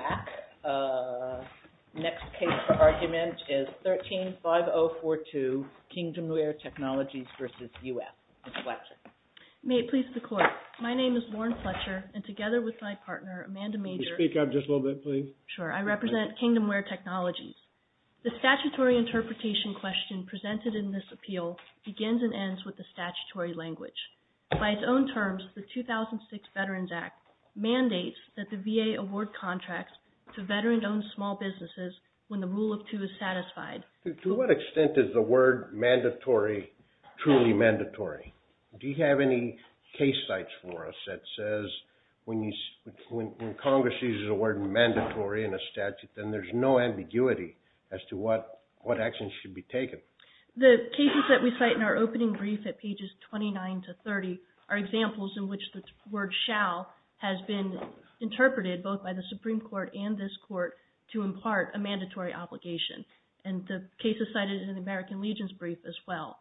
Act. Next case for argument is 13-5042, Kingdomware Technologies v. U.S. Ms. Fletcher. May it please the Court. My name is Lauren Fletcher, and together with my partner, Amanda Major... Could you speak up just a little bit, please? Sure. I represent Kingdomware Technologies. The statutory interpretation question presented in this appeal begins and ends with the statutory language. By its own terms, the 2006 Veterans Act mandates that the VA award contracts to veteran-owned small businesses when the rule of two is satisfied. To what extent is the word mandatory truly mandatory? Do you have any case sites for us that says when Congress uses the word mandatory in a statute, then there's no ambiguity as to what actions should be taken? The cases that we cite in our opening brief at pages 29-30 are examples in which the word shall has been interpreted both by the Supreme Court and this Court to impart a mandatory obligation. And the case is cited in the American Legion's brief as well.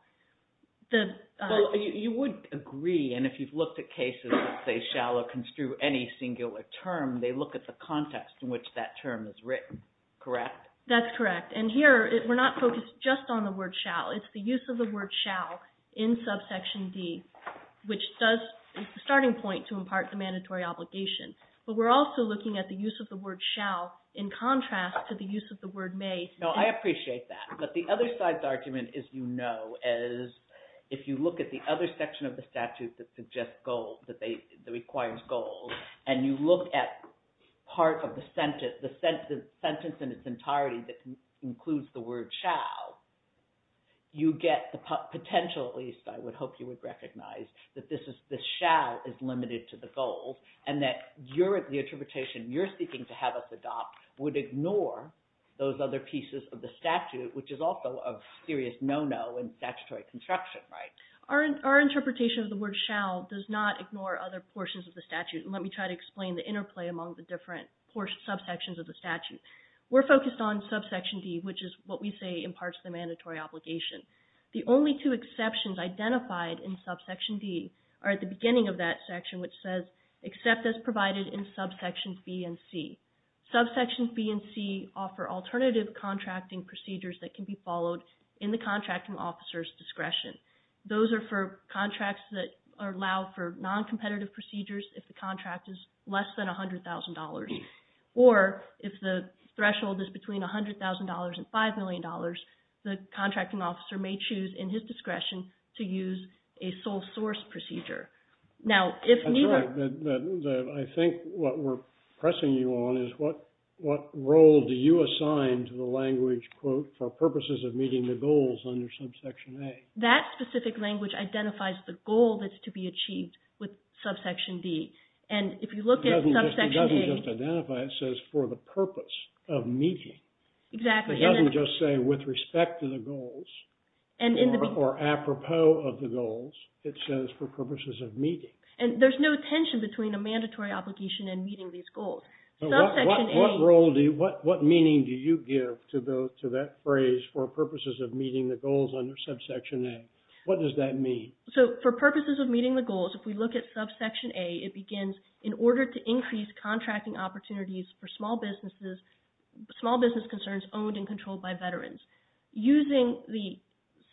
You would agree, and if you've looked at cases that say shall or construe any singular term, they look at the context in which that term is written, correct? That's correct. And here, we're not focused just on the word shall. It's the use of the word shall to impart the mandatory obligation. But we're also looking at the use of the word shall in contrast to the use of the word may. No, I appreciate that. But the other side's argument, as you know, is if you look at the other section of the statute that suggests goals, that requires goals, and you look at part of the sentence, the sentence in its entirety that includes the word shall, you get the potential, at least I would hope you would recognize, that this shall is limited to the goals, and that the interpretation you're seeking to have us adopt would ignore those other pieces of the statute, which is also a serious no-no in statutory construction, right? Our interpretation of the word shall does not ignore other portions of the statute. And let me try to explain the interplay among the different subsections of the statute. We're focused on subsection D, which is what we say imparts the mandatory obligation. The only two exceptions identified in subsection D are at the beginning of that section, which says except as provided in subsections B and C. Subsections B and C offer alternative contracting procedures that can be followed in the contracting officer's discretion. Those are for contracts that allow for non-competitive procedures if the contract is less than $100,000, or if the threshold is between $100,000 and $5 million, the contracting officer may choose in his discretion to use a sole-source procedure. Now if neither... That's right. I think what we're pressing you on is what role do you assign to the language, quote, for purposes of meeting the goals under subsection A? That specific language identifies the goal that's to be achieved with subsection D. And if you look at subsection A... It doesn't just identify, it says for the purpose of meeting. Exactly. It doesn't just say with respect to the goals or apropos of the goals. It says for purposes of meeting. And there's no tension between a mandatory obligation and meeting these goals. Subsection A... What meaning do you give to that phrase, for purposes of meeting the goals under subsection A? What does that mean? So for purposes of meeting the goals, if we look at subsection A, it begins, in order to increase contracting opportunities for small business concerns owned and controlled by veterans. Using the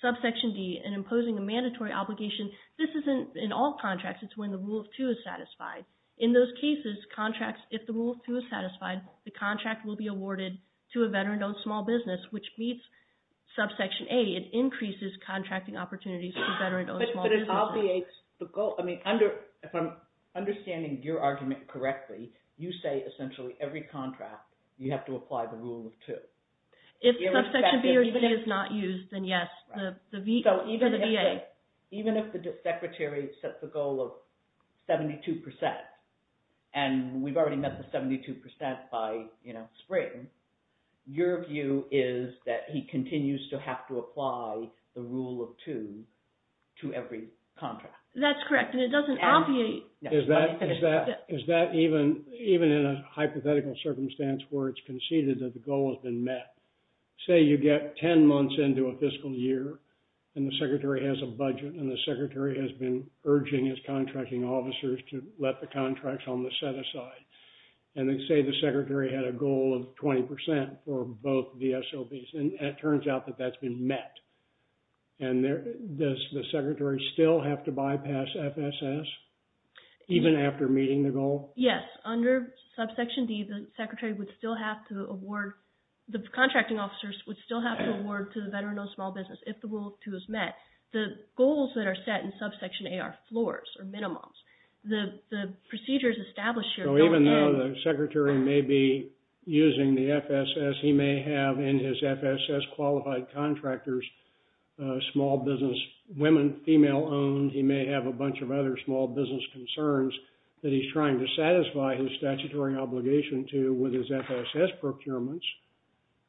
subsection D and imposing a mandatory obligation, this isn't in all contracts. It's when the rule of two is satisfied. In those cases, contracts, if the rule of two is satisfied, the contract will be awarded to a veteran-owned small business, which meets subsection A. It increases contracting opportunities for veteran-owned small businesses. But it obviates the goal. If I'm understanding your argument correctly, you say essentially every contract, you have to apply the rule of two. If subsection B or D is not used, then yes, for the VA. Even if the secretary sets a goal of 72%, and we've already met the 72% by spring, your view is that he continues to have to apply the rule of two to every contract. That's correct. And it doesn't obviate. Is that even in a hypothetical circumstance where it's conceded that the goal has been met? Say you get 10 months into a fiscal year, and the secretary has a budget, and the secretary has been urging his contracting officers to let the contracts on the set aside. And then say the secretary had a goal of 20% for both the SOVs, and it turns out that that's been met. And does the secretary still have to bypass FSS even after meeting the goal? Yes. Under subsection D, the secretary would still have to award, the contracting officers would still have to award to the veteran-owned small business if the rule of two is met. The goals that are set in subsection A are floors or minimums. The procedures established So even though the secretary may be using the FSS, he may have in his FSS qualified contractors, small business women, female-owned, he may have a bunch of other small business concerns that he's trying to satisfy his statutory obligation to with his FSS procurements,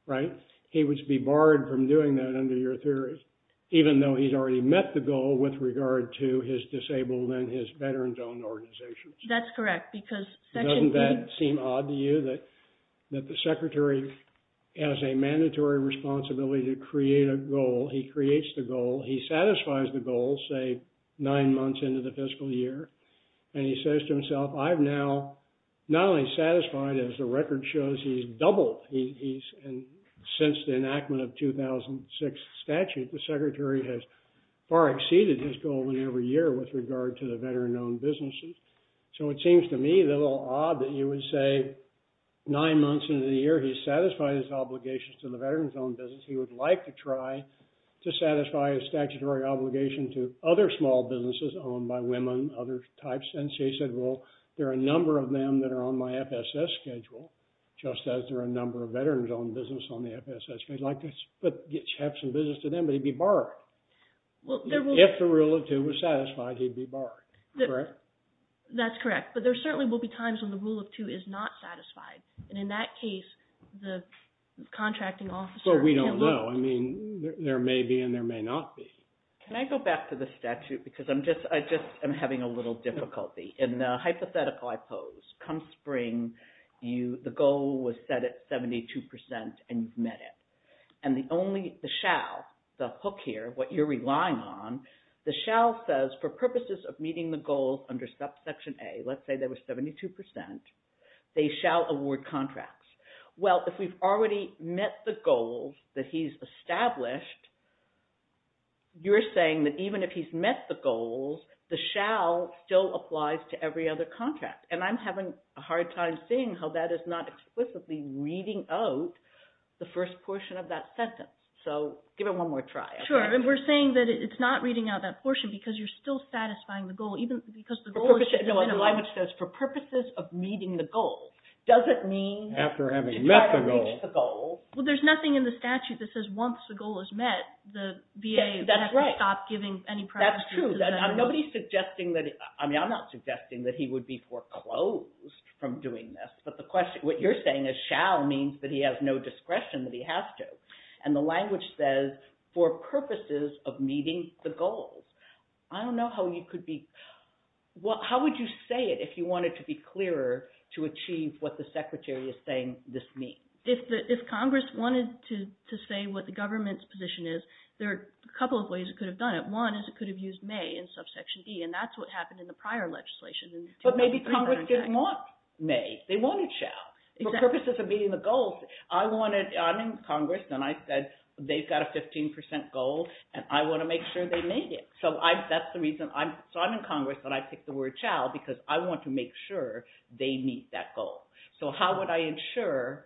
right? He would be barred from doing that under your theory, even though he's already met the goal with regard to his disabled and his veterans-owned organizations. That's correct, because section D... Doesn't that seem odd to you that the secretary has a mandatory responsibility to create a goal. He creates the goal. He satisfies the goal, say, nine months into the fiscal year. And he says to himself, I've now not only satisfied, as the record shows, he's doubled. Since the enactment of 2006 statute, the secretary has far exceeded his goal in every year with regard to the veteran-owned businesses. So it seems to me a little odd that you would say, nine months into the year, he's satisfied his obligations to the veterans-owned business. He would like to try to satisfy his statutory obligation to other small businesses owned by women, other types. And so he said, well, there are a number of them that are on my FSS schedule, just as there are a number of veterans-owned business on the FSS. He'd like to have some business to them, but he'd be barred. If the rule of two was satisfied, he'd be barred. That's correct. But there certainly will be times when the rule of two is not satisfied. And in that case, the contracting officer... Well, we don't know. I mean, there may be and there may not be. Can I go back to the statute? Because I just am having a little difficulty. In the hypothetical I pose, come spring, the goal was set at 72 percent and you've met it. And the only, the shall, the hook here, what you're relying on, the shall says, for purposes of meeting the goals under subsection A, let's say there was 72 percent, they shall award contracts. Well, if we've already met the goals that he's established, you're saying that even if he's met the goals, the shall still applies to every other contract. And I'm having a hard time seeing how that is not explicitly reading out the first portion of that sentence. So give it one more try. Sure. And we're saying that it's not reading out that portion because you're still satisfying the goal, even because the goal is... No, the language says, for purposes of meeting the goal. Does it mean... After having met the goal. Well, there's nothing in the statute that says once the goal is met, the VA has to stop giving any... That's true. Nobody's suggesting that, I mean, I'm not suggesting that he would be foreclosed from doing this. But the question, what you're saying is shall means that he has no discretion that he has to. And the language says, for purposes of meeting the goals. I don't know how you could be... Well, how would you say it if you wanted to be clearer to achieve what the secretary is saying this means? If Congress wanted to say what the government's position is, there are a couple of ways it could have done it. One is it could have used may in subsection B, and that's what happened in the prior legislation. But maybe Congress didn't want may. They wanted shall. For purposes of meeting the goals, I'm in Congress and I said they've got a 15 percent goal and I want to make sure they made it. So that's the reason I'm in Congress and I picked the word shall because I want to make sure they meet that goal. So how would I ensure...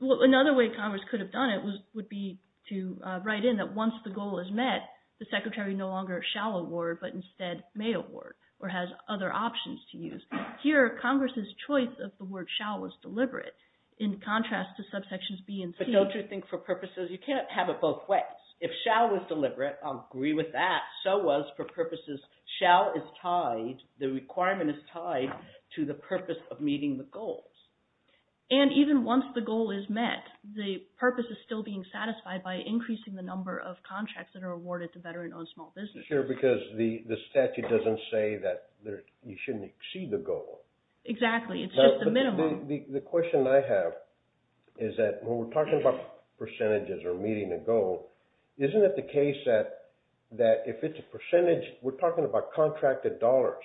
Well, another way Congress could have done it would be to write in that once the goal is met, the secretary no longer shall award, but instead may award or has other options to use. Here, Congress's choice of the word shall was deliberate in contrast to subsections B and C. But don't you think for purposes, you can't have it both ways. If shall was deliberate, I'll agree with that. So was for purposes shall is tied, the requirement is tied to the purpose of meeting the goals. And even once the goal is met, the purpose is still being satisfied by increasing the award to veteran-owned small businesses. Sure, because the statute doesn't say that you shouldn't exceed the goal. Exactly. It's just a minimum. The question I have is that when we're talking about percentages or meeting a goal, isn't it the case that if it's a percentage, we're talking about contracted dollars.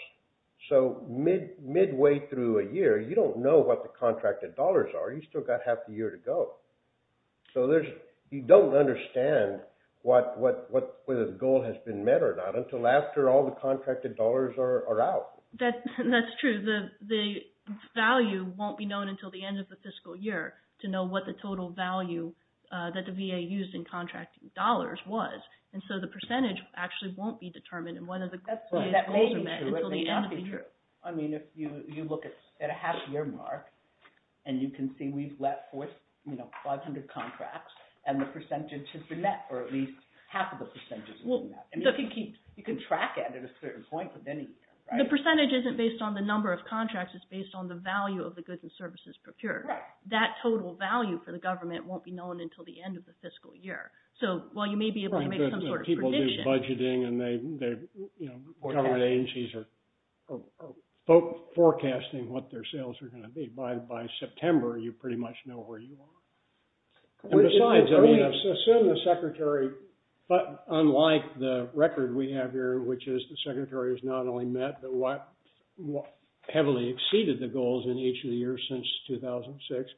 So midway through a year, you don't know what the contracted dollars are. You've still got half a year to go. So you don't understand whether the goal has been met or not until after all the contracted dollars are out. That's true. The value won't be known until the end of the fiscal year to know what the total value that the VA used in contracting dollars was. And so the percentage actually won't be determined until the end of the year. I mean, if you look at a half-year mark and you can see we've let forth, you know, 500 contracts and the percentage has been met, or at least half of the percentage has been met. And you can track it at a certain point, but then you can't, right? The percentage isn't based on the number of contracts, it's based on the value of the goods and services procured. That total value for the government won't be known until the end of the fiscal year. So while you may be able to make some sort of prediction... forecasting what their sales are going to be, by September, you pretty much know where you are. And besides, I mean, assume the secretary, but unlike the record we have here, which is the secretary has not only met, but heavily exceeded the goals in each of the years since 2006.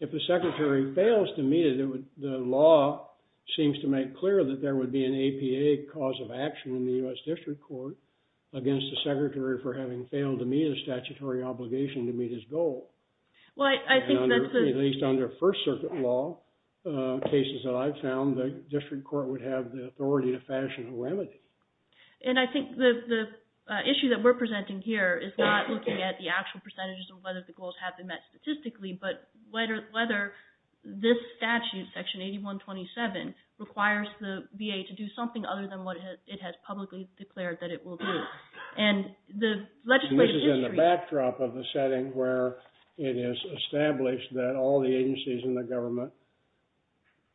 If the secretary fails to meet it, the law seems to make clear that there would be an excuse for the secretary for having failed to meet a statutory obligation to meet his goal. At least under First Circuit law, cases that I've found, the district court would have the authority to fashion a remedy. And I think the issue that we're presenting here is not looking at the actual percentages of whether the goals have been met statistically, but whether this statute, Section 8127, requires the VA to do something other than what it has publicly declared that it will do. And the legislative history... This is in the backdrop of the setting where it is established that all the agencies in the government,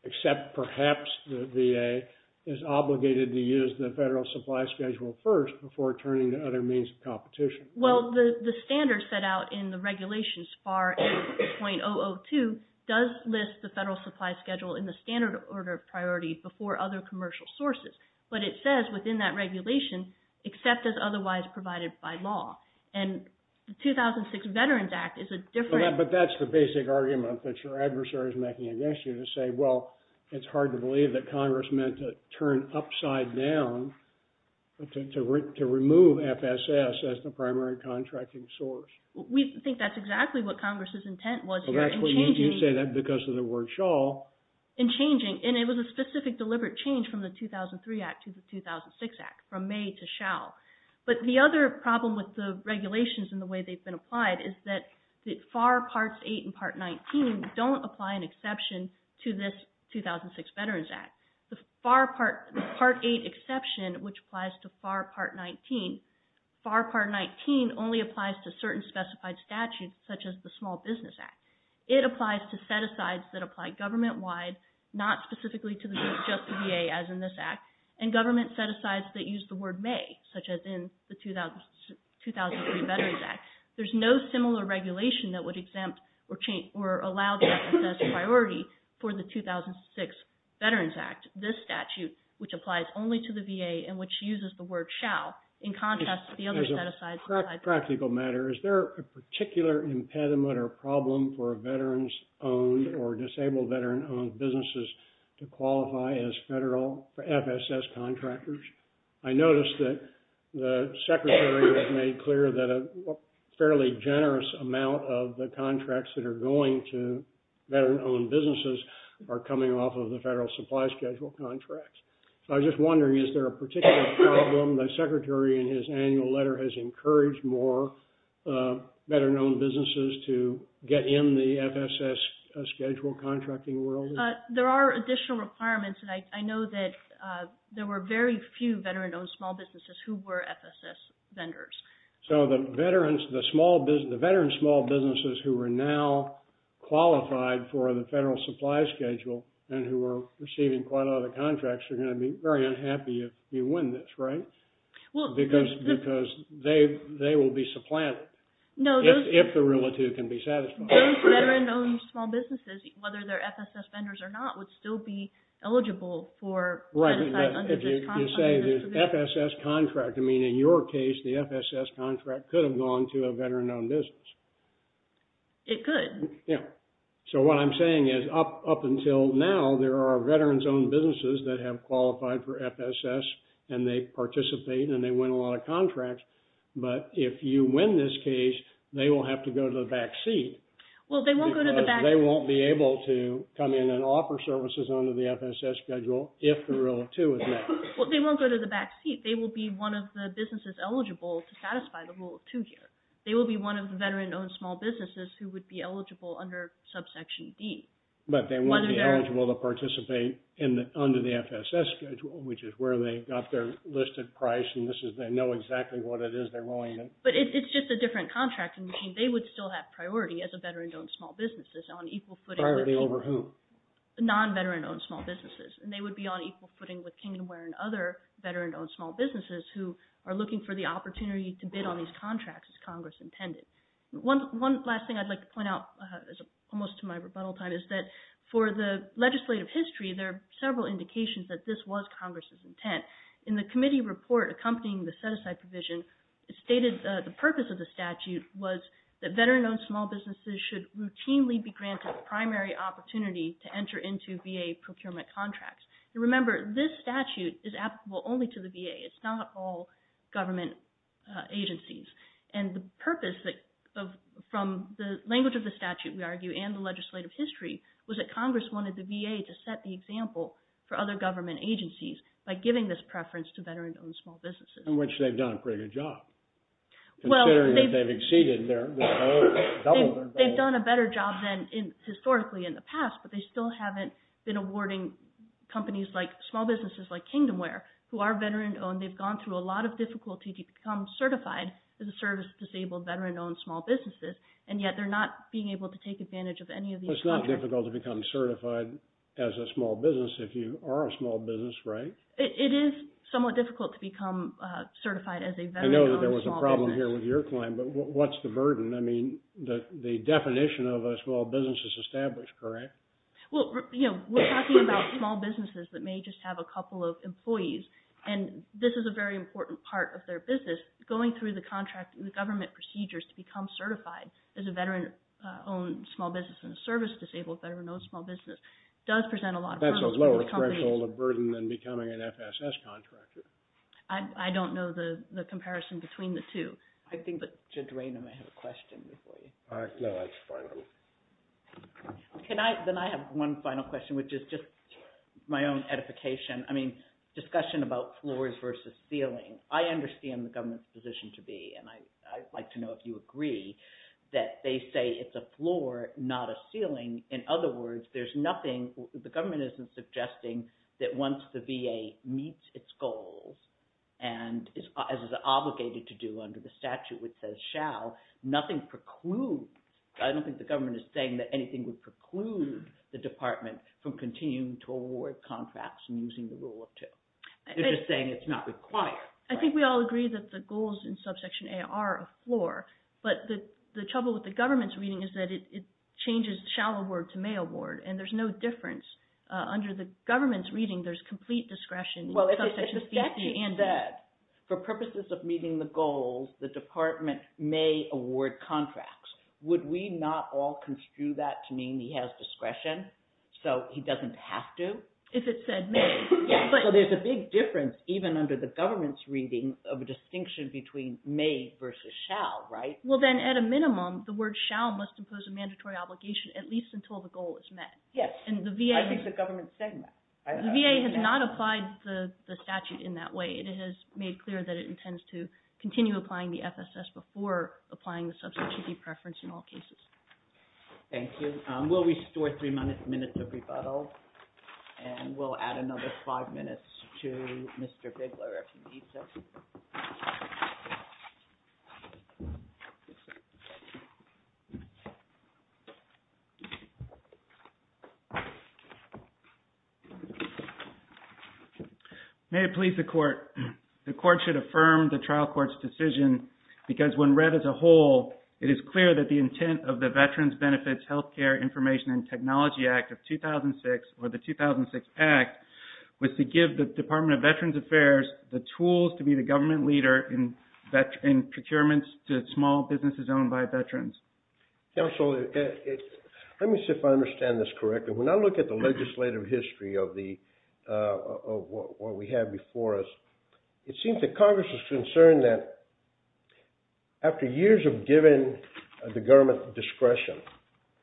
except perhaps the VA, is obligated to use the federal supply schedule first before turning to other means of competition. Well, the standard set out in the regulations, FAR 8.002, does list the federal supply schedule in the standard order of priority before other commercial sources. But it says within that regulation, except as otherwise provided by law. And the 2006 Veterans Act is a different... But that's the basic argument that your adversary is making against you to say, well, it's hard to believe that Congress meant to turn upside down to remove FSS as the primary contracting source. We think that's exactly what Congress's intent was. Well, that's why you say that because of the word shawl. And changing, and it was a specific deliberate change from the 2003 Act to the 2006 Act, from may to shall. But the other problem with the regulations and the way they've been applied is that the FAR Parts 8 and Part 19 don't apply an exception to this 2006 Veterans Act. The FAR Part 8 exception, which applies to FAR Part 19, FAR Part 19 only applies to certain specified statutes, such as the Small Business Act. It applies to set-asides that apply government-wide, not specifically to the VA as in this Act, and government set-asides that use the word may, such as in the 2003 Veterans Act. There's no similar regulation that would exempt or change or allow FSS priority for the 2006 Veterans Act, this statute, which applies only to the VA and which uses the word shall. In contrast, the other set-asides... On a practical matter, is there a particular impediment or problem for veterans-owned or disabled veteran-owned businesses to qualify as federal FSS contractors? I noticed that the Secretary has made clear that a fairly generous amount of the contracts that are going to veteran-owned businesses are coming off of the federal supply schedule contracts. I was just wondering, is there a particular problem the Secretary in his annual letter has encouraged more veteran-owned businesses to get in the FSS schedule contracting world? There are additional requirements, and I know that there were very few veteran-owned small businesses who were FSS vendors. So the veterans, the small business, the veteran small businesses who are now qualified for the federal supply schedule and who are receiving quite a lot of the contracts are going to be very unhappy if you win this, right? Well, because they will be supplanted if the relative can be satisfied. Those veteran-owned small businesses, whether they're FSS vendors or not, would still be eligible for... Right, if you say the FSS contract, I mean, in your case, the FSS contract could have gone to a veteran-owned business. It could. So what I'm saying is up until now, there are veterans-owned businesses that have participated, and they win a lot of contracts. But if you win this case, they will have to go to the back seat. Well, they won't go to the back... Because they won't be able to come in and offer services under the FSS schedule if the rule of two is met. Well, they won't go to the back seat. They will be one of the businesses eligible to satisfy the rule of two here. They will be one of the veteran-owned small businesses who would be eligible under subsection D. But they won't be eligible to participate under the FSS schedule, which is where they got their listed price, and this is they know exactly what it is they're willing to... But it's just a different contracting machine. They would still have priority as a veteran-owned small business on equal footing... Priority over who? Non-veteran-owned small businesses. And they would be on equal footing with Kingdomware and other veteran-owned small businesses who are looking for the opportunity to bid on these contracts as Congress intended. One last thing I'd like to point out, almost to my rebuttal time, is that for the legislative history, there are several indications that this was Congress's intent. In the committee report accompanying the set-aside provision, it stated the purpose of the statute was that veteran-owned small businesses should routinely be granted a primary opportunity to enter into VA procurement contracts. You remember, this statute is applicable only to the VA. It's not all government agencies. And the purpose from the language of the statute, we argue, and the legislative history was that Congress wanted the VA to set the example for other government agencies by giving this preference to veteran-owned small businesses. In which they've done a pretty good job, considering that they've exceeded their goal, doubled their goal. They've done a better job than historically in the past, but they still haven't been awarding companies like small businesses like Kingdomware, who are veteran-owned. They've gone through a lot of difficulty to become certified as a service to disabled veteran-owned small businesses, and yet they're not being able to take advantage of any of these contracts. It's not difficult to become certified as a small business if you are a small business, right? It is somewhat difficult to become certified as a veteran-owned small business. I know that there was a problem here with your claim, but what's the burden? I mean, the definition of a small business is established, correct? Well, you know, we're talking about small businesses that may just have a couple of employees, and this is a very important part of their business. Going through the contract and the government procedures to become certified as a veteran-owned small business and a service to disabled veteran-owned small business does present a lot of burden for the companies. And then becoming an FSS contractor. I don't know the comparison between the two. I think that Judge Raynham may have a question before you. No, that's fine. Can I, then I have one final question, which is just my own edification. I mean, discussion about floors versus ceiling. I understand the government's position to be, and I'd like to know if you agree, that they say it's a floor, not a ceiling. In other words, there's nothing, the government isn't suggesting that once the VA meets its goals, and as is obligated to do under the statute which says shall, nothing precludes, I don't think the government is saying that anything would preclude the department from continuing to award contracts and using the rule of two. They're just saying it's not required. I think we all agree that the goals in subsection A are a floor, but the trouble with the government's reading is that it changes shall award to may award, and there's no difference. Under the government's reading, there's complete discretion. Well, if the statute said, for purposes of meeting the goals, the department may award contracts, would we not all construe that to mean he has discretion so he doesn't have to? If it said may. Yeah, so there's a big difference, even under the government's reading, of a distinction between may versus shall, right? Well, then at a minimum, the word shall must impose a mandatory obligation at least until the goal is met. Yes, I think the government's saying that. The VA has not applied the statute in that way. It has made clear that it intends to continue applying the FSS before applying the subsection B preference in all cases. Thank you. We'll restore three minutes of rebuttal, and we'll add another five minutes to Mr. Bigler if he needs it. May it please the court, the court should affirm the trial court's decision because when read as a whole, it is clear that the intent of the Veterans Benefits Healthcare Information and Technology Act of 2006, or the 2006 Act, was to give the Department of Veterans Affairs the tools to be the government leader in procurements to small businesses owned by veterans. Counselor, let me see if I understand this correctly. When I look at the legislative history of what we have before us, it seems that Congress is concerned that after years of giving the government discretion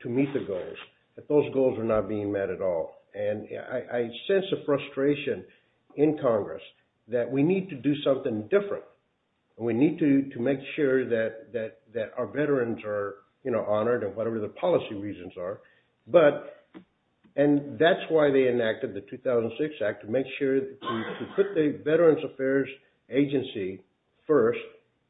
to meet the goals, that those goals are not being met at all. And I sense a frustration in Congress that we need to do something different, and we need to make sure that our veterans are honored, and whatever the policy reasons are, and that's why they enacted the 2006 Act, to make sure to put the Veterans Affairs Agency first,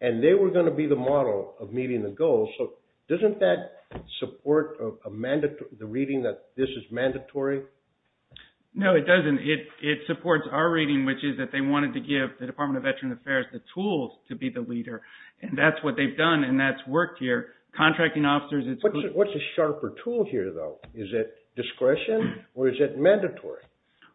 and they were going to be the model of meeting the goals. So doesn't that support the reading that this is mandatory? No, it doesn't. It supports our reading, which is that they wanted to give the Department of Veterans Affairs the tools to be the leader, and that's what they've done, and that's worked here. Contracting officers... What's a sharper tool here, though? Is it discretion, or is it mandatory?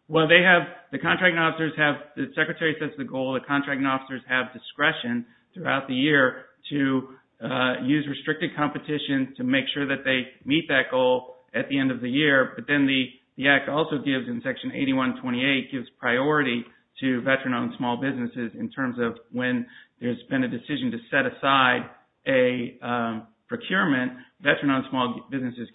Well, they have, the contracting officers have, the Secretary sets the goal that contracting officers have discretion throughout the year to use restricted competition to make sure that they meet that goal at the end of the year. But then the Act also gives, in Section 8128, gives priority to veteran-owned small businesses in terms of when there's been a decision to set aside a procurement, veteran-owned small businesses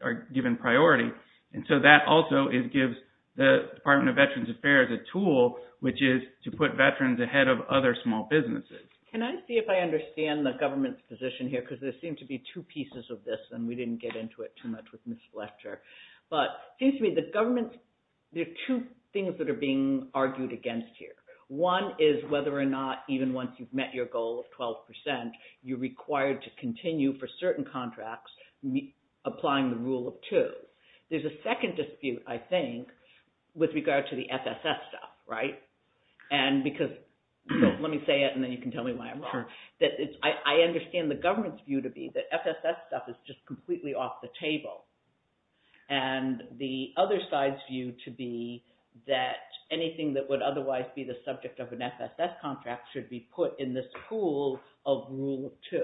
are given priority. And so that also gives the Department of Veterans Affairs a tool, which is to put veterans ahead of other small businesses. Can I see if I understand the government's position here? Because there seem to be two pieces of this, and we didn't get into it too much with Ms. Fletcher. But it seems to me the government, there are two things that are being argued against here. One is whether or not, even once you've met your goal of 12%, you're required to continue for certain contracts, applying the rule of two. There's a second dispute, I think, with regard to the FSS stuff, right? And because, let me say it, and then you can tell me why I'm wrong, that it's, I understand the government's view to be that FSS stuff is just completely off the board, otherwise be the subject of an FSS contract should be put in the school of rule two.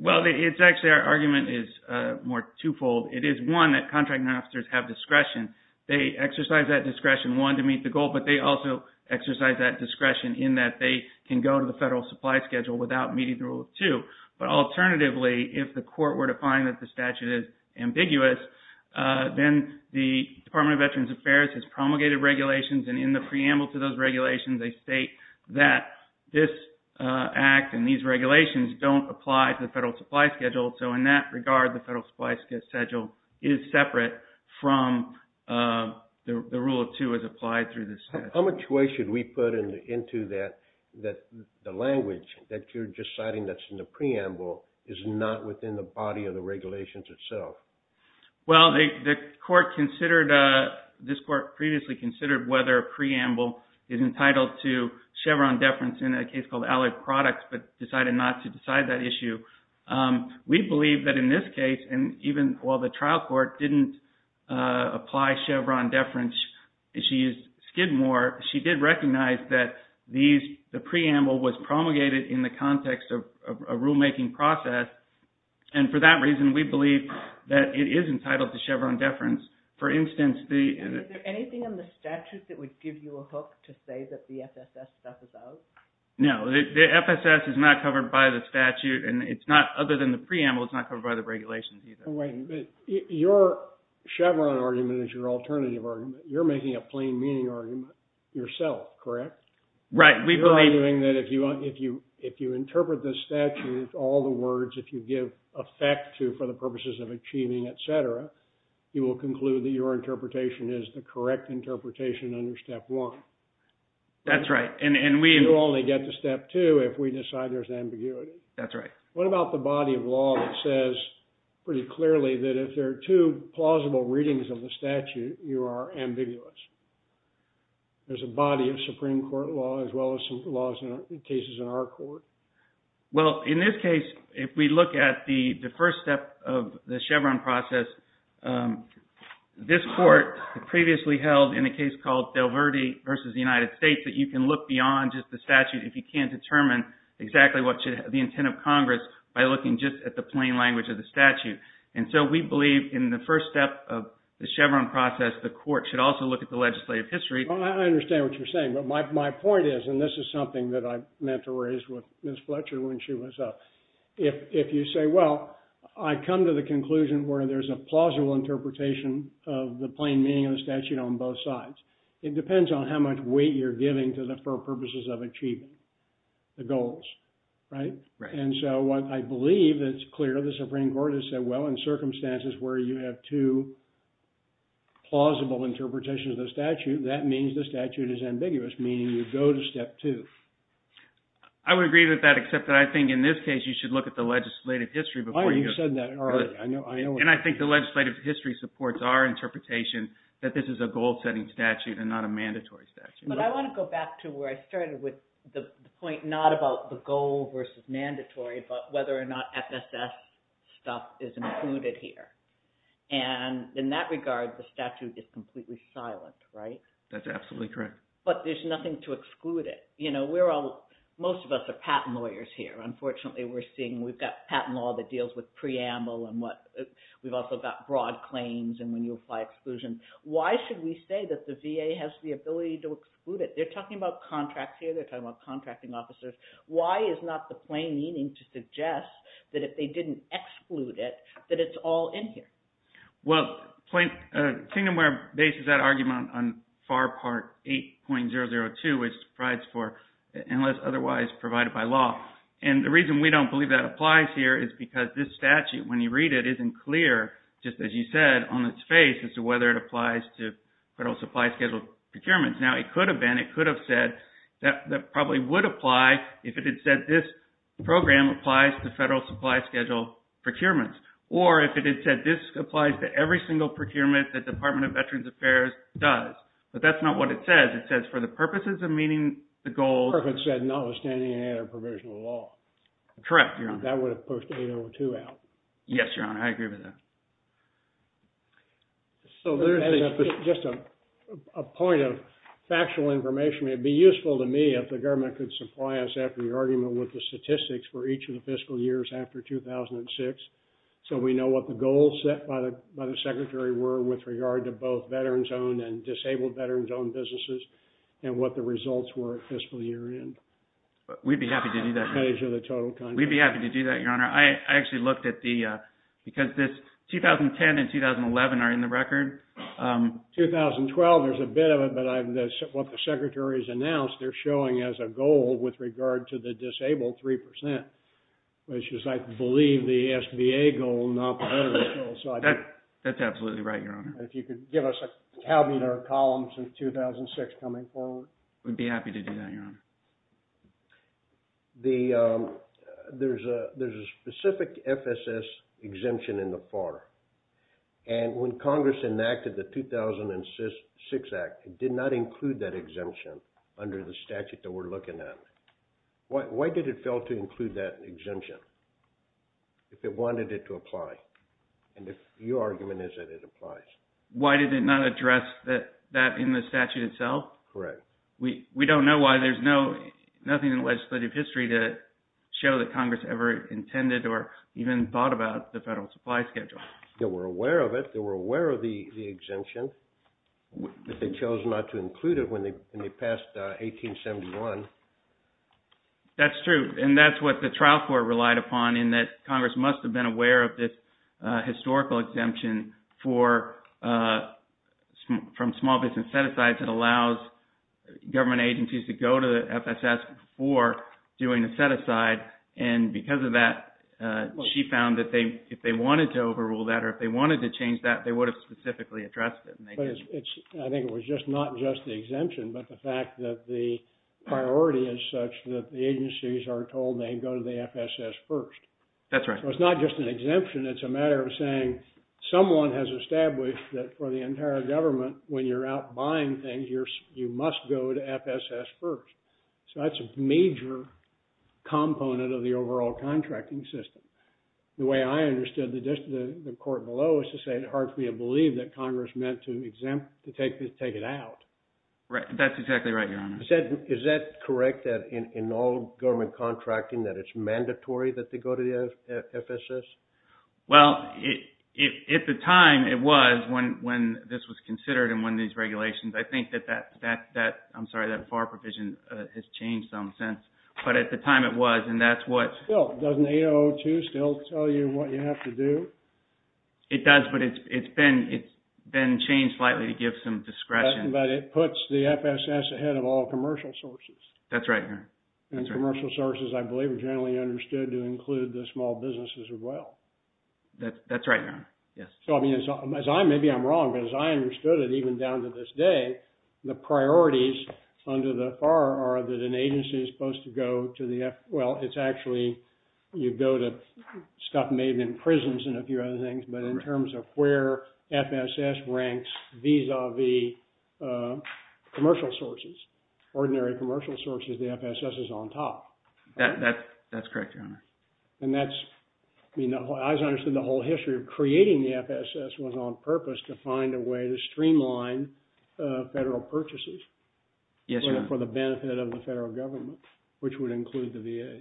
Well, it's actually, our argument is more twofold. It is, one, that contracting officers have discretion. They exercise that discretion, one, to meet the goal, but they also exercise that discretion in that they can go to the federal supply schedule without meeting the rule of two. But alternatively, if the court were to find that the statute is ambiguous, then the regulations, and in the preamble to those regulations, they state that this act and these regulations don't apply to the federal supply schedule. So in that regard, the federal supply schedule is separate from the rule of two as applied through the statute. How much weight should we put into that, that the language that you're just citing that's in the preamble is not within the body of the regulations itself? Well, the court considered, this court previously considered whether a preamble is entitled to Chevron deference in a case called Allied Products, but decided not to decide that issue. We believe that in this case, and even while the trial court didn't apply Chevron deference, she used Skidmore, she did recognize that the preamble was promulgated in the context of a rulemaking process. And for that reason, we believe that it is entitled to Chevron deference. For instance, the... And is there anything in the statute that would give you a hook to say that the FSS stuff is out? No, the FSS is not covered by the statute. And it's not, other than the preamble, it's not covered by the regulations either. Wait a minute, your Chevron argument is your alternative argument. You're making a plain meaning argument yourself, correct? Right. We believe... You're arguing that if you interpret the statute, all the words, if you give effect to, for the purposes of achieving, et cetera, you will conclude that your interpretation is the correct interpretation under step one. That's right. And we... You only get to step two if we decide there's ambiguity. That's right. What about the body of law that says pretty clearly that if there are two plausible readings of the statute, you are ambiguous? There's a body of Supreme Court law as well as some laws and cases in our court. Well, in this case, if we look at the first step of the Chevron process, this court previously held in a case called Del Verde versus the United States that you can look beyond just the statute if you can't determine exactly what should have the intent of Congress by looking just at the plain language of the statute. And so we believe in the first step of the Chevron process, the court should also look at the legislative history. Well, I understand what you're saying, but my point is, and this is something that I meant to raise with Ms. Fletcher when she was up, if you say, well, I come to the conclusion where there's a plausible interpretation of the plain meaning of the statute on both sides, it depends on how much weight you're giving to the purposes of achieving the goals, right? And so what I believe that's clear, the Supreme Court has said, well, in the case of the statute, that means the statute is ambiguous, meaning you go to step two. I would agree with that, except that I think in this case, you should look at the legislative history before you go to step two. Why haven't you said that earlier? I know what you mean. And I think the legislative history supports our interpretation that this is a goal-setting statute and not a mandatory statute. But I want to go back to where I started with the point not about the goal versus mandatory, but whether or not FSS stuff is included here. And in that regard, the statute is completely silent, right? That's absolutely correct. But there's nothing to exclude it. You know, we're all, most of us are patent lawyers here. Unfortunately, we're seeing we've got patent law that deals with preamble and what, we've also got broad claims. And when you apply exclusion, why should we say that the VA has the ability to exclude it? They're talking about contracts here. They're talking about contracting officers. Why is not the plain meaning to suggest that if they didn't exclude it, that it's all in here? Well, Kingdomware bases that argument on FAR Part 8.002, which provides for unless otherwise provided by law. And the reason we don't believe that applies here is because this statute, when you read it, isn't clear, just as you said, on its face as to whether it applies to federal supply schedule procurements. Now, it could have been, it could have said that probably would apply if it had said this program applies to federal supply schedule procurements. Or if it had said this applies to every single procurement that Department of Veterans Affairs does. But that's not what it says. It says for the purposes of meeting the goal. If it said notwithstanding, it had a provisional law. Correct, Your Honor. That would have pushed 8.02 out. Yes, Your Honor. I agree with that. So there's just a point of factual information. It'd be useful to me if the government could supply us after the argument with the statistics for each of the fiscal years after 2006. So we know what the goals set by the secretary were with regard to both veterans owned and disabled veterans owned businesses and what the results were at fiscal year end. We'd be happy to do that, Your Honor. I actually looked at the, because this 2010 and 2011 are in the record. 2012, there's a bit of it, but what the secretary has announced, they're showing as a goal with regard to the disabled 3%, which is I believe the SBA goal, not the other goal. So I think that's absolutely right, Your Honor. And if you could give us a tabular column since 2006 coming forward. We'd be happy to do that, Your Honor. The, there's a, there's a specific FSS exemption in the FAR. And when Congress enacted the 2006 act, it did not include that exemption under the statute that we're looking at. Why did it fail to include that exemption? If it wanted it to apply. And if your argument is that it applies. Why did it not address that, that in the statute itself? Correct. We, we don't know why there's no, nothing in the legislative history to show that Congress ever intended or even thought about the federal supply schedule. They were aware of it. They were aware of the exemption. They chose not to include it when they, when they passed 1871. That's true. And that's what the trial court relied upon in that Congress must have been aware of this historical exemption for, from small business set-asides that allows government agencies to go to the FSS before doing a set-aside. And because of that, she found that they, if they wanted to overrule that, or if they wanted to change that, they would have specifically addressed it. I think it was just not just the exemption, but the fact that the priority is such that the agencies are told they go to the FSS first. That's right. So it's not just an exemption. It's a matter of saying someone has established that for the entire government, when you're out buying things, you must go to FSS first. So that's a major component of the overall contracting system. The way I understood the court below is to say it hard for me to believe that Congress meant to exempt, to take it out. Right. That's exactly right, Your Honor. Is that correct, that in all government contracting, that it's mandatory that they go to the FSS? Well, at the time it was, when this was considered in one of these regulations, I think that that, I'm sorry, that FAR provision has changed some since, but at the time it was. And that's what... Still, doesn't 802 still tell you what you have to do? It does, but it's been changed slightly to give some discretion. But it puts the FSS ahead of all commercial sources. That's right, Your Honor. And commercial sources, I believe, are generally understood to include the small businesses as well. That's right, Your Honor. Yes. So, I mean, as I'm, maybe I'm wrong, but as I understood it, even down to this day, the priorities under the FAR are that an agency is supposed to go to the, well, it's actually, you go to stuff made in prisons and a few other things. But in terms of where FSS ranks vis-a-vis commercial sources, ordinary commercial sources, the FSS is on top. That's correct, Your Honor. And that's, I mean, I understand the whole history of creating the FSS was on purpose to find a way to streamline federal purchases for the benefit of the federal government, which would include the VA.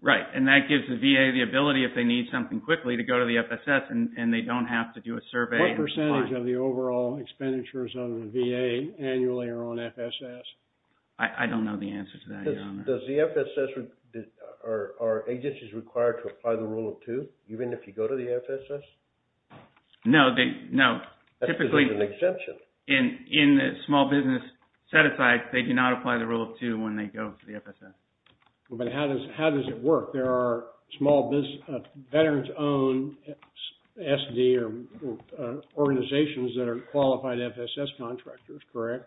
Right. And that gives the VA the ability, if they need something quickly, to go to the FSS and they don't have to do a survey. What percentage of the overall expenditures on the VA annually are on FSS? I don't know the answer to that, Your Honor. Does the FSS, are agencies required to apply the rule of two, even if you go to the FSS? No, they, no. Typically, in the small business set-aside, they do not apply the rule of two when they go to the FSS. But how does it work? There are small business, veterans-owned SD or organizations that are qualified FSS contractors, correct?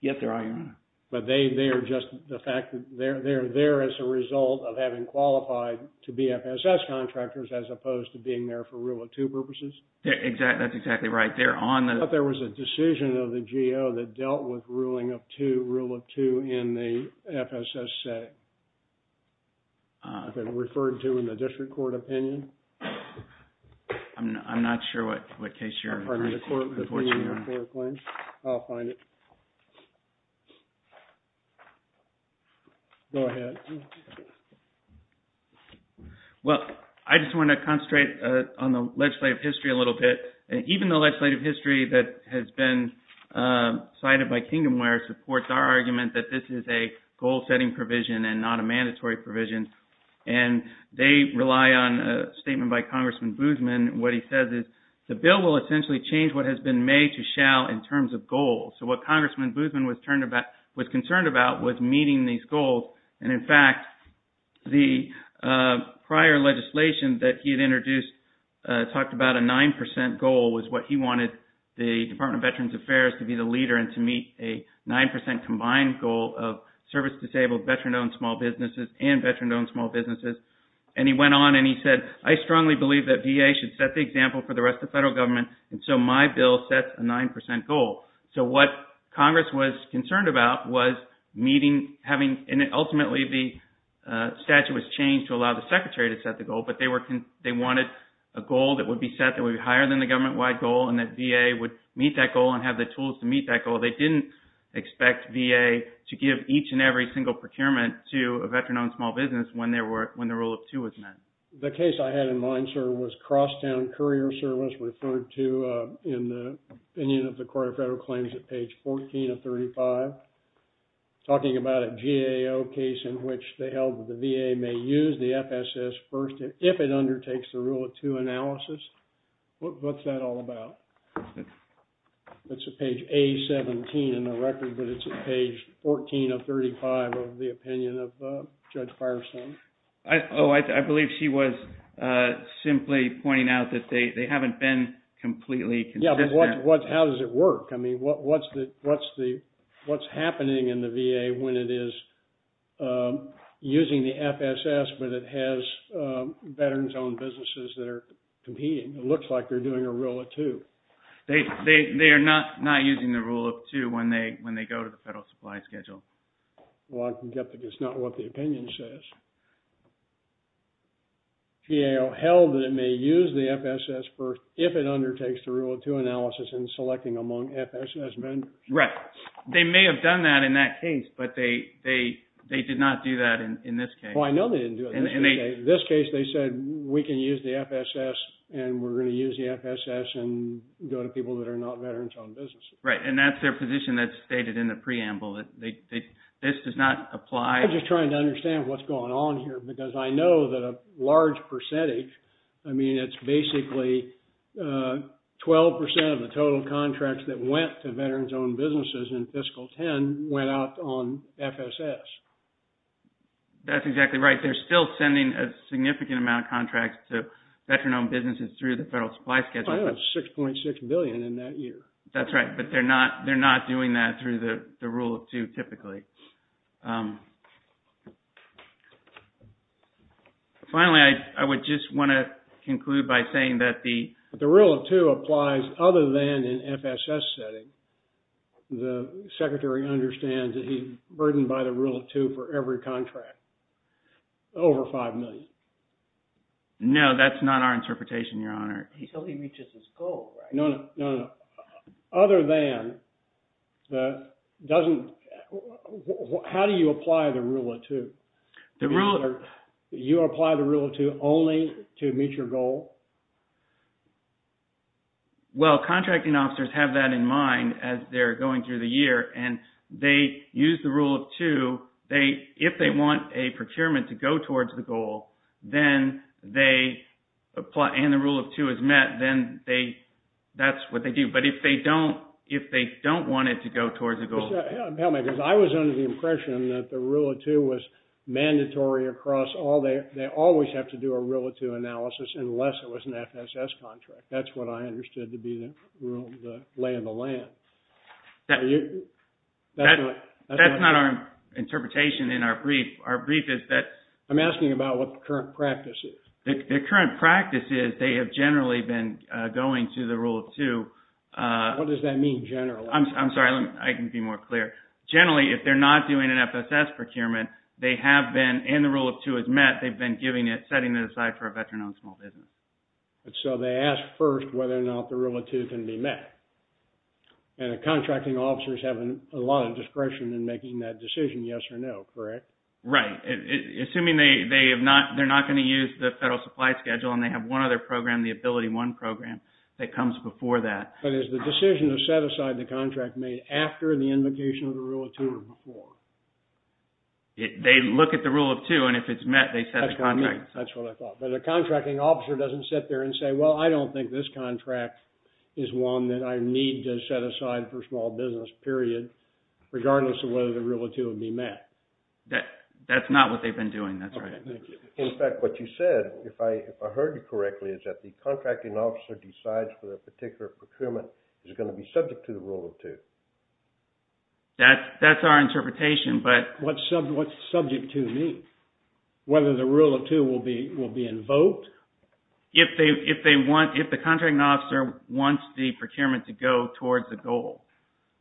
Yes, there are, Your Honor. But they are just, the fact that they're there as a result of having qualified to be FSS contractors as opposed to being there for rule of two purposes? That's exactly right. They're on the- I thought there was a decision of the GO that dealt with ruling of two, rule of two in the FSS setting. Has it been referred to in the district court opinion? I'm not sure what case you're referring to, Your Honor. Pardon the court, the opinion of the court of claims. I'll find it. Go ahead. Well, I just want to concentrate on the legislative history a little bit. Even the legislative history that has been cited by Kingdomware supports our provision and not a mandatory provision. And they rely on a statement by Congressman Boozman. What he says is the bill will essentially change what has been made to shall in terms of goals. So what Congressman Boozman was concerned about was meeting these goals. And in fact, the prior legislation that he had introduced talked about a 9% goal was what he wanted the Department of Veterans Affairs to be the leader and to disable veteran-owned small businesses and veteran-owned small businesses. And he went on and he said, I strongly believe that VA should set the example for the rest of the federal government. And so my bill sets a 9% goal. So what Congress was concerned about was meeting, having, and ultimately the statute was changed to allow the secretary to set the goal, but they wanted a goal that would be set that would be higher than the government-wide goal and that VA would meet that goal and have the tools to meet that goal. They didn't expect VA to give each and every single procurement to a veteran-owned small business when the rule of two was met. The case I had in mind, sir, was Crosstown Courier Service referred to in the opinion of the Court of Federal Claims at page 14 of 35, talking about a GAO case in which they held that the VA may use the FSS first if it undertakes the rule of two analysis. What's that all about? It's at page A-17 in the record, but it's at page 14 of 35 of the opinion of Judge Firestone. Oh, I believe she was simply pointing out that they haven't been completely consistent. Yeah, but how does it work? I mean, what's happening in the VA when it is using the FSS, but it has veterans-owned businesses that are competing? It looks like they're doing a rule of two. They are not using the rule of two when they go to the Federal Supply Schedule. Well, I can get that it's not what the opinion says. GAO held that it may use the FSS first if it undertakes the rule of two analysis in selecting among FSS vendors. Right. They may have done that in that case, but they did not do that in this case. Well, I know they didn't do it in this case. In this case, they said, we can use the FSS and we're going to use the FSS and go to people that are not veterans-owned businesses. Right. And that's their position that's stated in the preamble that this does not apply. I'm just trying to understand what's going on here because I know that a large percentage, I mean, it's basically 12% of the total contracts that went to veterans-owned businesses in fiscal 10 went out on FSS. That's exactly right. They're still sending a significant amount of contracts to veteran-owned businesses through the Federal Supply Schedule. I know it's 6.6 billion in that year. That's right. But they're not doing that through the rule of two typically. Finally, I would just want to conclude by saying that the rule of two applies other than in FSS setting. The Secretary understands that he's burdened by the rule of two for every contract. Over 5 million. No, that's not our interpretation, Your Honor. Until he reaches his goal, right? No, no, no, no. Other than, how do you apply the rule of two? You apply the rule of two only to meet your goal? Well, contracting officers have that in mind as they're going through the year and they use the rule of two. If they want a procurement to go towards the goal and the rule of two is met, then that's what they do. But if they don't want it to go towards the goal... Help me, because I was under the impression that the rule of two was mandatory across all. They always have to do a rule of two analysis unless it was an FSS contract. That's what I understood to be the lay of the land. That's not our interpretation in our brief. Our brief is that... I'm asking about what the current practice is. The current practice is they have generally been going to the rule of two. What does that mean, generally? I'm sorry, I can be more clear. Generally, if they're not doing an FSS procurement, they have been, and the rule of two is met, they've been giving it, setting it aside for a veteran-owned small business. So they ask first whether or not the rule of two can be met. And the contracting officers have a lot of discretion in making that decision, yes or no, correct? Right. Assuming they're not going to use the federal supply schedule and they have one other program, the AbilityOne program, that comes before that. But is the decision to set aside the contract made after the invocation of the rule of two or before? They look at the rule of two, and if it's met, they set the contract aside. That's what I thought. But the contracting officer doesn't sit there and say, well, I don't think this I need to set aside for a small business, period, regardless of whether the rule of two would be met. That's not what they've been doing. That's right. In fact, what you said, if I heard you correctly, is that the contracting officer decides whether a particular procurement is going to be subject to the rule of two. That's our interpretation, but... What's subject to mean? Whether the rule of two will be invoked? If the contracting officer wants the procurement to go towards the goal.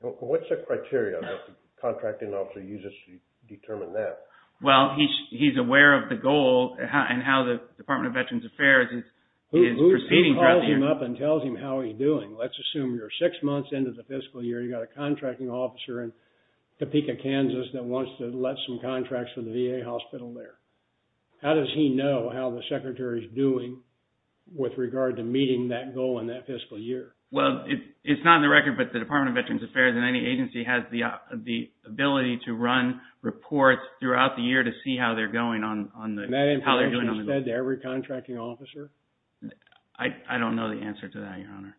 What's the criteria that the contracting officer uses to determine that? Well, he's aware of the goal and how the Department of Veterans Affairs is proceeding. Who calls him up and tells him how he's doing? Let's assume you're six months into the fiscal year. You've got a contracting officer in Topeka, Kansas, that wants to let some contracts for the VA hospital there. How does he know how the secretary is doing with regard to meeting that goal in that fiscal year? Well, it's not in the record, but the Department of Veterans Affairs and any agency has the ability to run reports throughout the year to see how they're going on, how they're doing. And that information is fed to every contracting officer? I don't know the answer to that, Your Honor.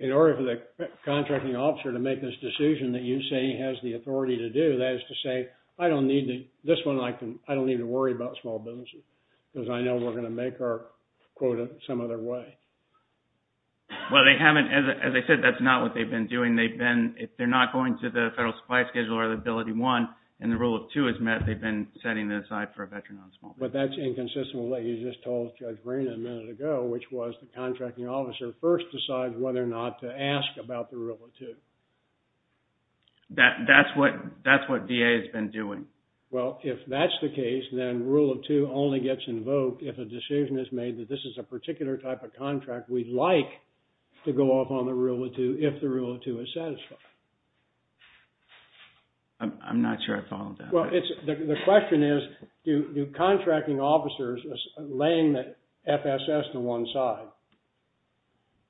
In order for the contracting officer to make this decision that you say he has the authority to do, that is to say, I don't need to, this one I can, I don't need to worry about small businesses because I know we're going to make our quota some other way. Well, they haven't, as I said, that's not what they've been doing. They've been, if they're not going to the federal supply schedule or the ability one and the rule of two is met, they've been setting it aside for a veteran on small business. But that's inconsistent with what you just told Judge Green a minute ago, which was the contracting officer first decides whether or not to ask about the rule of two. That, that's what, that's what DA has been doing. Well, if that's the case, then rule of two only gets invoked if a decision is made that this is a particular type of contract we'd like to go off on the rule of two, if the rule of two is satisfied. I'm not sure I followed that. Well, it's, the question is, do, do contracting officers laying the FSS to one side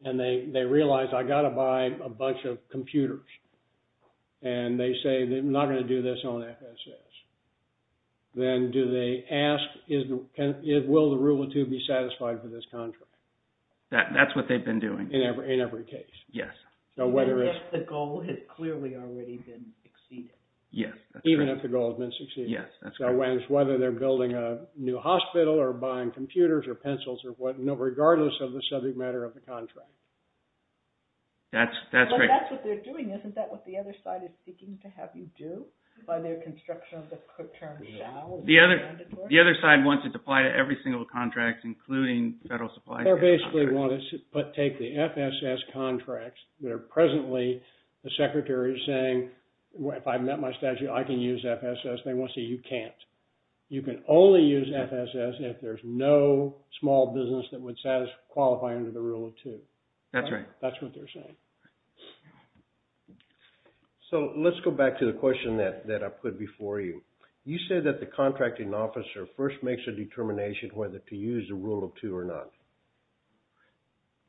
and they, they realize I got to buy a bunch of computers and they say that I'm not going to do this on FSS, then do they ask, is, can, will the rule of two be satisfied for this contract? That, that's what they've been doing. In every, in every case. Yes. So whether it's. The goal has clearly already been exceeded. Yes. Even if the goal has been succeeded. Yes. That's correct. So whether they're building a new hospital or buying computers or pencils or what, no, regardless of the subject matter of the contract. That's, that's great. But that's what they're doing. Isn't that what the other side is seeking to have you do by their construction of the term shall? The other, the other side wants it to apply to every single contract, including federal supply chain contracts. They basically want us to take the FSS contracts that are presently, the secretary is saying, if I've met my statute, I can use FSS. They want to say, you can't. You can only use FSS if there's no small business that would satisfy, qualify under the rule of two. That's right. That's what they're saying. So let's go back to the question that, that I put before you. You said that the contracting officer first makes a determination whether to use the rule of two or not.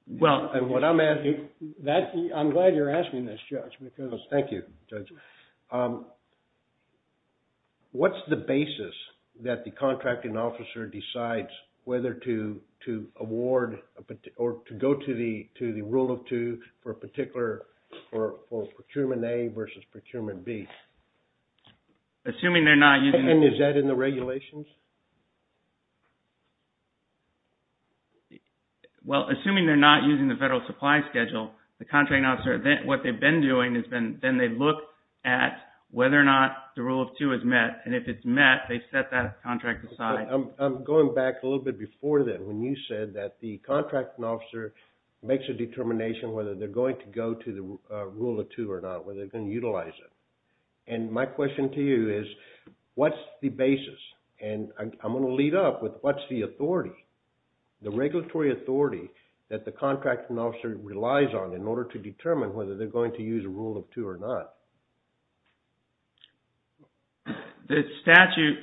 Well, and what I'm asking. That, I'm glad you're asking this judge because. Thank you, judge. What's the basis that the contracting officer decides whether to, to award or to go to the, to the rule of two for a particular, for, for procurement A versus procurement B. Assuming they're not using. And is that in the regulations? Well, assuming they're not using the federal supply schedule, the federal, the federal government is looking at whether or not the rule of two is met. And if it's met, they set that contract aside. I'm going back a little bit before that, when you said that the contracting officer makes a determination, whether they're going to go to the rule of two or not, whether they're going to utilize it. And my question to you is what's the basis. And I'm going to lead up with what's the authority, the regulatory authority that the contracting officer relies on in order to determine whether they're going to use a rule of two or not. The statute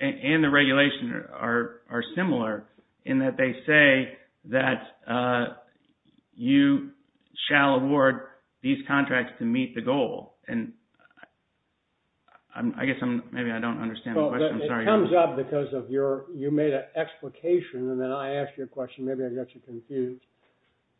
and the regulation are, are similar in that they say that you shall award these contracts to meet the goal. And I guess I'm, maybe I don't understand the question, I'm sorry. It comes up because of your, you made an explication and then I asked you a question, maybe I got you confused.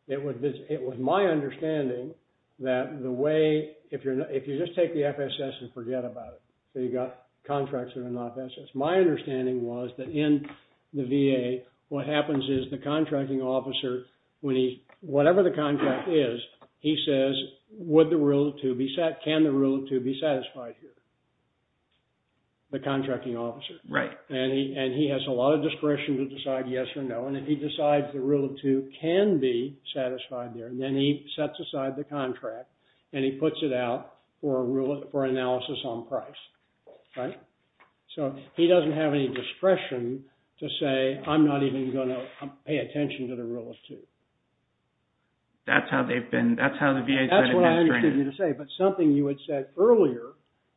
It was, it was my understanding that the way, if you're not, if you just take the FSS and forget about it, so you got contracts that are not FSS, my understanding was that in the VA, what happens is the contracting officer, when he, whatever the contract is, he says, would the rule of two be set? Can the rule of two be satisfied here? The contracting officer. Right. And he, and he has a lot of discretion to decide yes or no. And if he decides the rule of two can be satisfied there, then he sets aside the contract and he puts it out for a rule of, for analysis on price, right? So he doesn't have any discretion to say, I'm not even going to pay attention to the rule of two. That's how they've been, that's how the VA has been. That's what I understood you to say. But something you had said earlier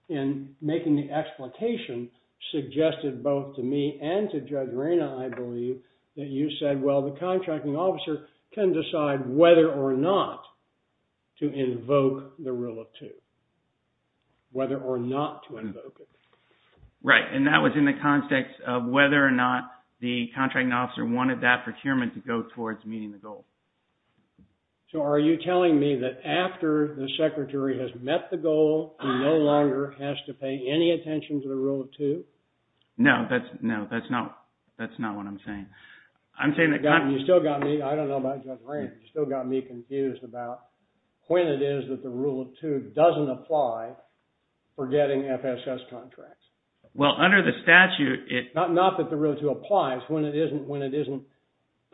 in making the explication suggested both to me and to Judge Reyna, I believe that you said, well, the contracting officer can decide whether or not to invoke the rule of two. Whether or not to invoke it. Right. And that was in the context of whether or not the contracting officer wanted that procurement to go towards meeting the goal. So are you telling me that after the secretary has met the goal, he no longer has to pay any attention to the rule of two? No, that's, no, that's not, that's not what I'm saying. I'm saying that... You still got me, I don't know about Judge Reyna, you still got me confused about when it is that the rule of two doesn't apply for getting FSS contracts. Well, under the statute, it... Not that the rule of two applies, when it isn't, when it isn't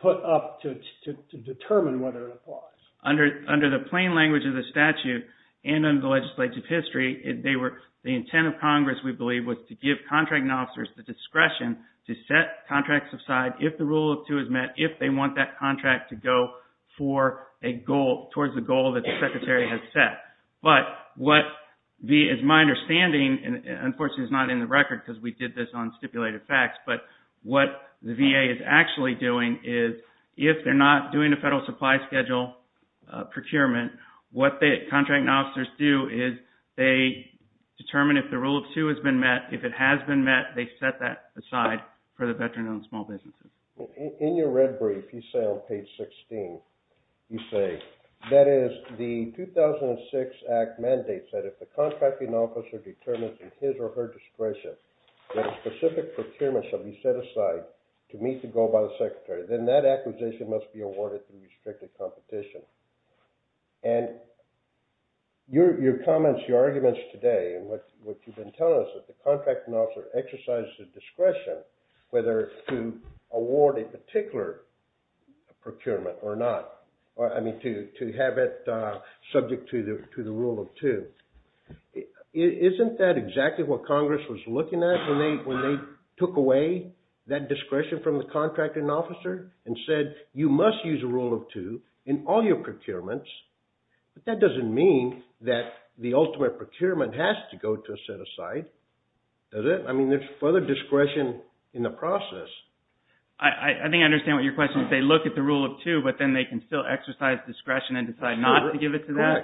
put up to determine whether it applies. Under, under the plain language of the statute and under the legislative history, they were, the intent of Congress, we believe, was to give contracting officers the discretion to set contracts aside if the rule of two is met, if they want that contract to go for a goal, towards the goal that the secretary has set. But what the, as my understanding, and unfortunately it's not in the record because we did this on stipulated facts, but what the VA is actually doing is, if they're not doing a federal supply schedule procurement, what the contracting officers do is they determine if the rule of two has been met, if it has been met, they set that aside for the veteran-owned small businesses. Well, in your red brief, you say on page 16, you say, that is the 2006 Act mandates that if the contracting officer determines in his or her discretion that a specific procurement shall be set aside to meet the goal by the secretary, then that acquisition must be awarded through restricted competition. And your comments, your arguments today, and what you've been telling us, that the contracting officer exercises the discretion whether to award a particular procurement or not, or I mean, to have it subject to the rule of two. Isn't that exactly what Congress was looking at when they took away that discretion from the contracting officer and said, you must use a rule of two in all your procurements, but that doesn't mean that the ultimate procurement has to go to a set-aside, does it? I mean, there's further discretion in the process. I think I understand what your question is. They look at the rule of two, but then they can still exercise discretion and decide not to give it to them.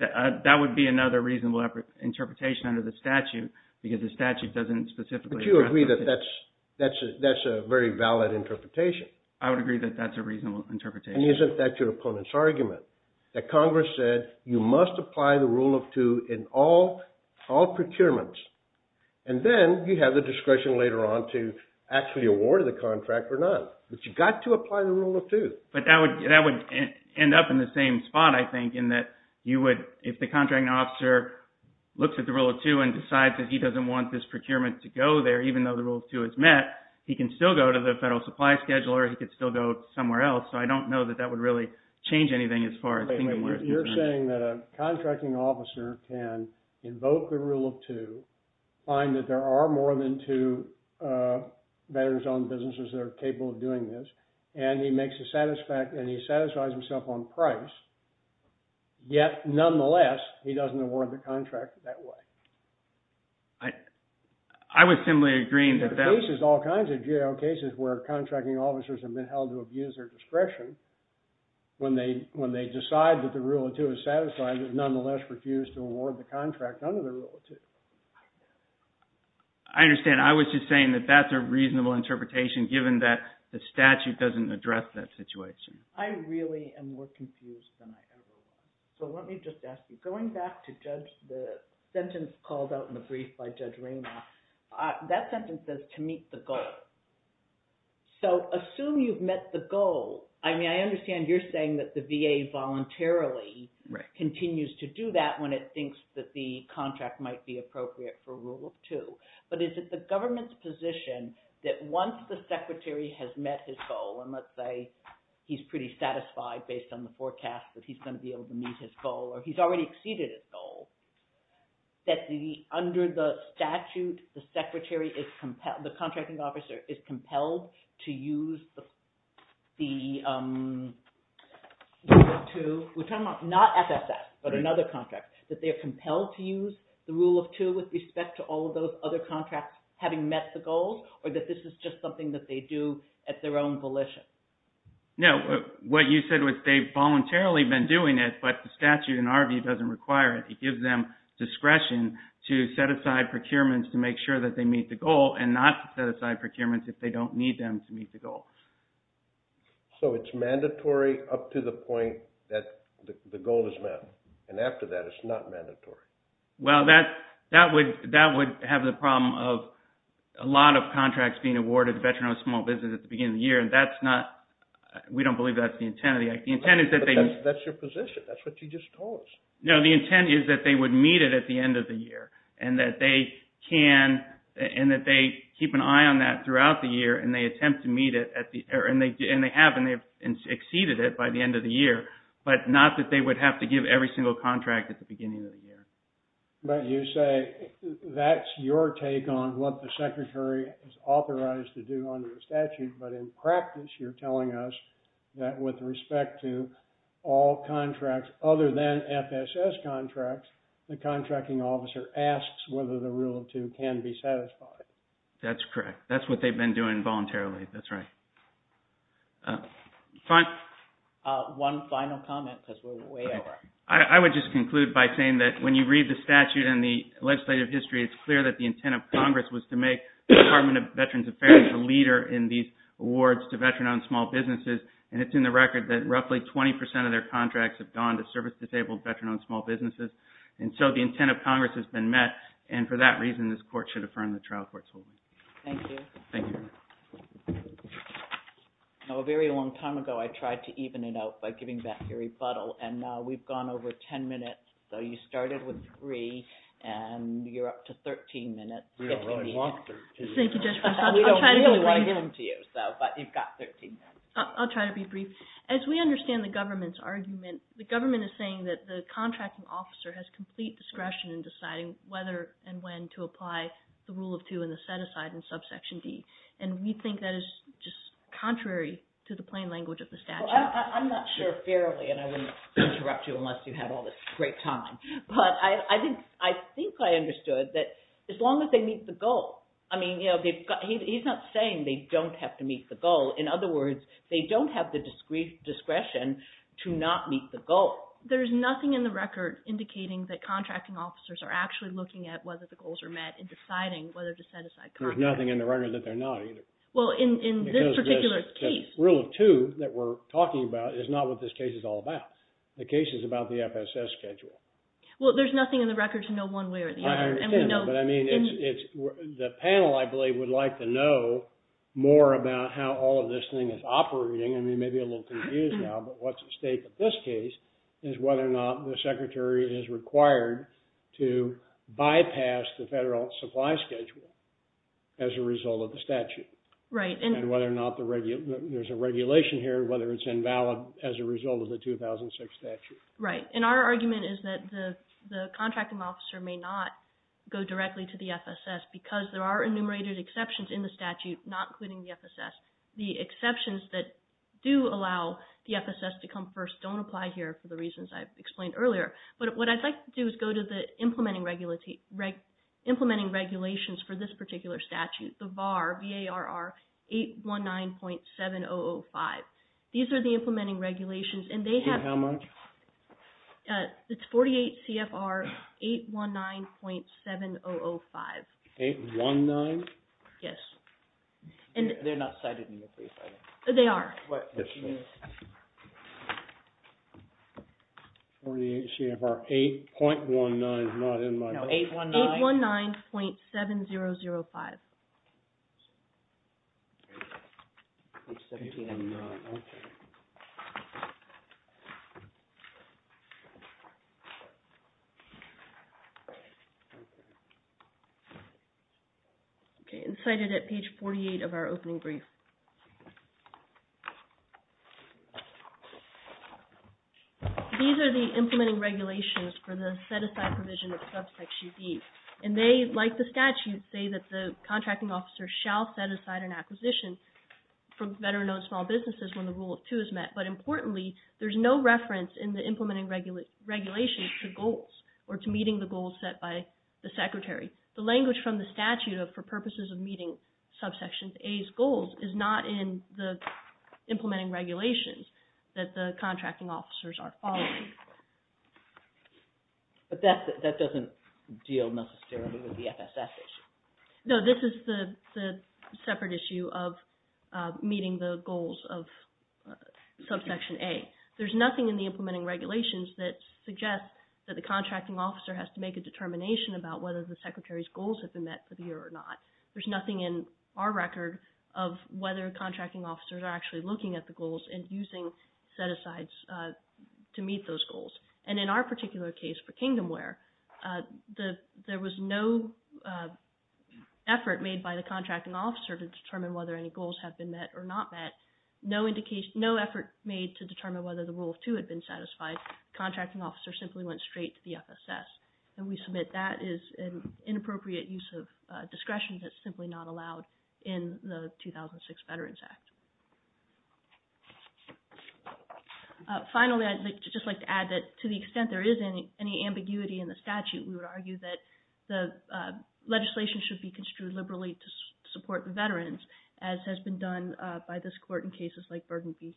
That would be another reasonable interpretation under the statute, because the statute doesn't specifically... But you agree that that's a very valid interpretation. I would agree that that's a reasonable interpretation. And isn't that your opponent's argument, that Congress said, you must apply the rule of two in all procurements, and then you have the discretion later on to actually award the contract or not, but you've got to apply the rule of two. But that would end up in the same spot, I think, in that you would, if the contracting officer looks at the rule of two and decides that he doesn't want this procurement to go there, even though the rule of two is met, he can still go to the federal supply schedule, or he could still go somewhere else. So I don't know that that would really change anything as far as... Wait a minute, you're saying that a contracting officer can invoke the rule of two, find that there are more than two veterans-owned businesses that are capable of doing this, and he makes a satisfaction, and he satisfies himself on price, yet nonetheless, he doesn't award the contract that way. I would simply agree that... There are cases, all kinds of GAO cases, where contracting officers have been under pressure when they decide that the rule of two is satisfied, but nonetheless, refuse to award the contract under the rule of two. I understand. I was just saying that that's a reasonable interpretation, given that the statute doesn't address that situation. I really am more confused than I ever was. So let me just ask you, going back to the sentence called out in the brief by Judge Raynaud, that sentence says, to meet the goal. So, assume you've met the goal. I mean, I understand you're saying that the VA voluntarily continues to do that when it thinks that the contract might be appropriate for rule of two, but is it the government's position that once the secretary has met his goal, and let's say he's pretty satisfied based on the forecast that he's going to be able to meet his goal, or he's already exceeded his goal, that under the statute, the contracting officer is compelled to use the rule of two, not FSS, but another contract, that they are compelled to use the rule of two with respect to all of those other contracts having met the goals, or that this is just something that they do at their own volition? No, what you said was they've voluntarily been doing it, but the statute, in our view, doesn't require it. It gives them discretion to set aside procurements to make sure that they meet the goal, and not to set aside procurements if they don't need them to meet the goal. So, it's mandatory up to the point that the goal is met, and after that, it's not mandatory? Well, that would have the problem of a lot of contracts being awarded to veterans on small business at the beginning of the year, and that's not, we don't believe that's the intent of the act. The intent is that they... That's your position. That's what you just told us. No, the intent is that they would meet it at the end of the year, and that they can, and that they keep an eye on that throughout the year, and they attempt to meet it, and they have, and they've exceeded it by the end of the year, but not that they would have to give every single contract at the beginning of the year. But you say that's your take on what the secretary is authorized to do under the statute, but in practice, you're telling us that with respect to all contracts other than FSS contracts, the contracting officer asks whether the rule of two can be satisfied. That's correct. That's what they've been doing voluntarily. That's right. One final comment, because we're way over. I would just conclude by saying that when you read the statute and the legislative history, it's clear that the intent of Congress was to make the Department of Veterans Affairs a leader in these awards to veterans on small businesses, and it's in the record that roughly 20% of their contracts have gone to service-disabled veteran-owned small businesses. And so the intent of Congress has been met, and for that reason, this court should affirm the trial court's holdings. Thank you. Thank you. Now, a very long time ago, I tried to even it out by giving back your rebuttal, and now we've gone over 10 minutes, so you started with three, and you're up to 13 minutes, if you need. We don't really want to give him to you, but you've got 13 minutes. I'll try to be brief. As we understand the government's argument, the government is saying that the contracting officer has complete discretion in deciding whether and when to apply the rule of two and the set-aside in subsection D, and we think that is just contrary to the plain language of the statute. I'm not sure fairly, and I wouldn't interrupt you unless you had all this great time, but I think I understood that as long as they meet the goal, I mean, you know, he's not saying they don't have to meet the goal. In other words, they don't have the discretion to not meet the goal. There's nothing in the record indicating that contracting officers are actually looking at whether the goals are met and deciding whether to set aside contracts. There's nothing in the record that they're not either. Well, in this particular case. Rule of two that we're talking about is not what this case is all about. The case is about the FSS schedule. Well, there's nothing in the record to know one way or the other. I understand, but I mean, the panel, I believe, would like to know more about how all of this thing is operating. I mean, maybe a little confused now, but what's at stake in this case is whether or not the secretary is required to bypass the federal supply schedule as a result of the statute, and whether or not there's a regulation here, whether it's invalid as a result of the 2006 statute. Right. And our argument is that the contracting officer may not go directly to the FSS the exceptions that do allow the FSS to come first don't apply here for the reasons I've explained earlier. But what I'd like to do is go to the implementing regulations for this particular statute, the VAR, V-A-R-R, 819.7005. These are the implementing regulations and they have... How much? It's 48 CFR 819.7005. 819? Yes. And they're not cited in the brief, are they? They are. 48 CFR 8.19 is not in my... No, 819.7005. Page 17 on the... Okay. Okay. And cited at page 48 of our opening brief. These are the implementing regulations for the set-aside provision of subsection D, and they, like the statute, say that the contracting officer shall set aside an acquisition for better-known small businesses when the rule of two is met. But importantly, there's no reference in the implementing regulations to goals or to meeting the goals set by the secretary. The language from the statute of for purposes of meeting subsection A's goals is not in the implementing regulations that the contracting officers are following. But that doesn't deal necessarily with the FSS issue. No, this is the separate issue of meeting the goals of subsection A. There's nothing in the implementing regulations that suggest that the contracting officer has to make a determination about whether the secretary's goals have been met for the year or not. There's nothing in our record of whether contracting officers are actually looking at the goals and using set-asides to meet those goals. And in our particular case for Kingdomware, there was no effort made by the contracting officer to determine whether any goals have been met or not met. No effort made to determine whether the rule of two had been satisfied. The contracting officer simply went straight to the FSS. And we submit that is an inappropriate use of discretion that's simply not allowed in the 2006 Veterans Act. Finally, I'd just like to add that to the extent there is any ambiguity in the statute, we would argue that the legislation should be construed liberally to support the veterans as has been done by this court in cases like Burgenfield-Shinseki.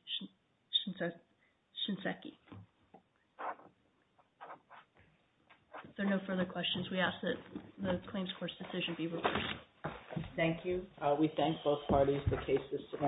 If there are no further questions, we ask that the claims court's decision be reversed. Thank you. We thank both parties for the cases today.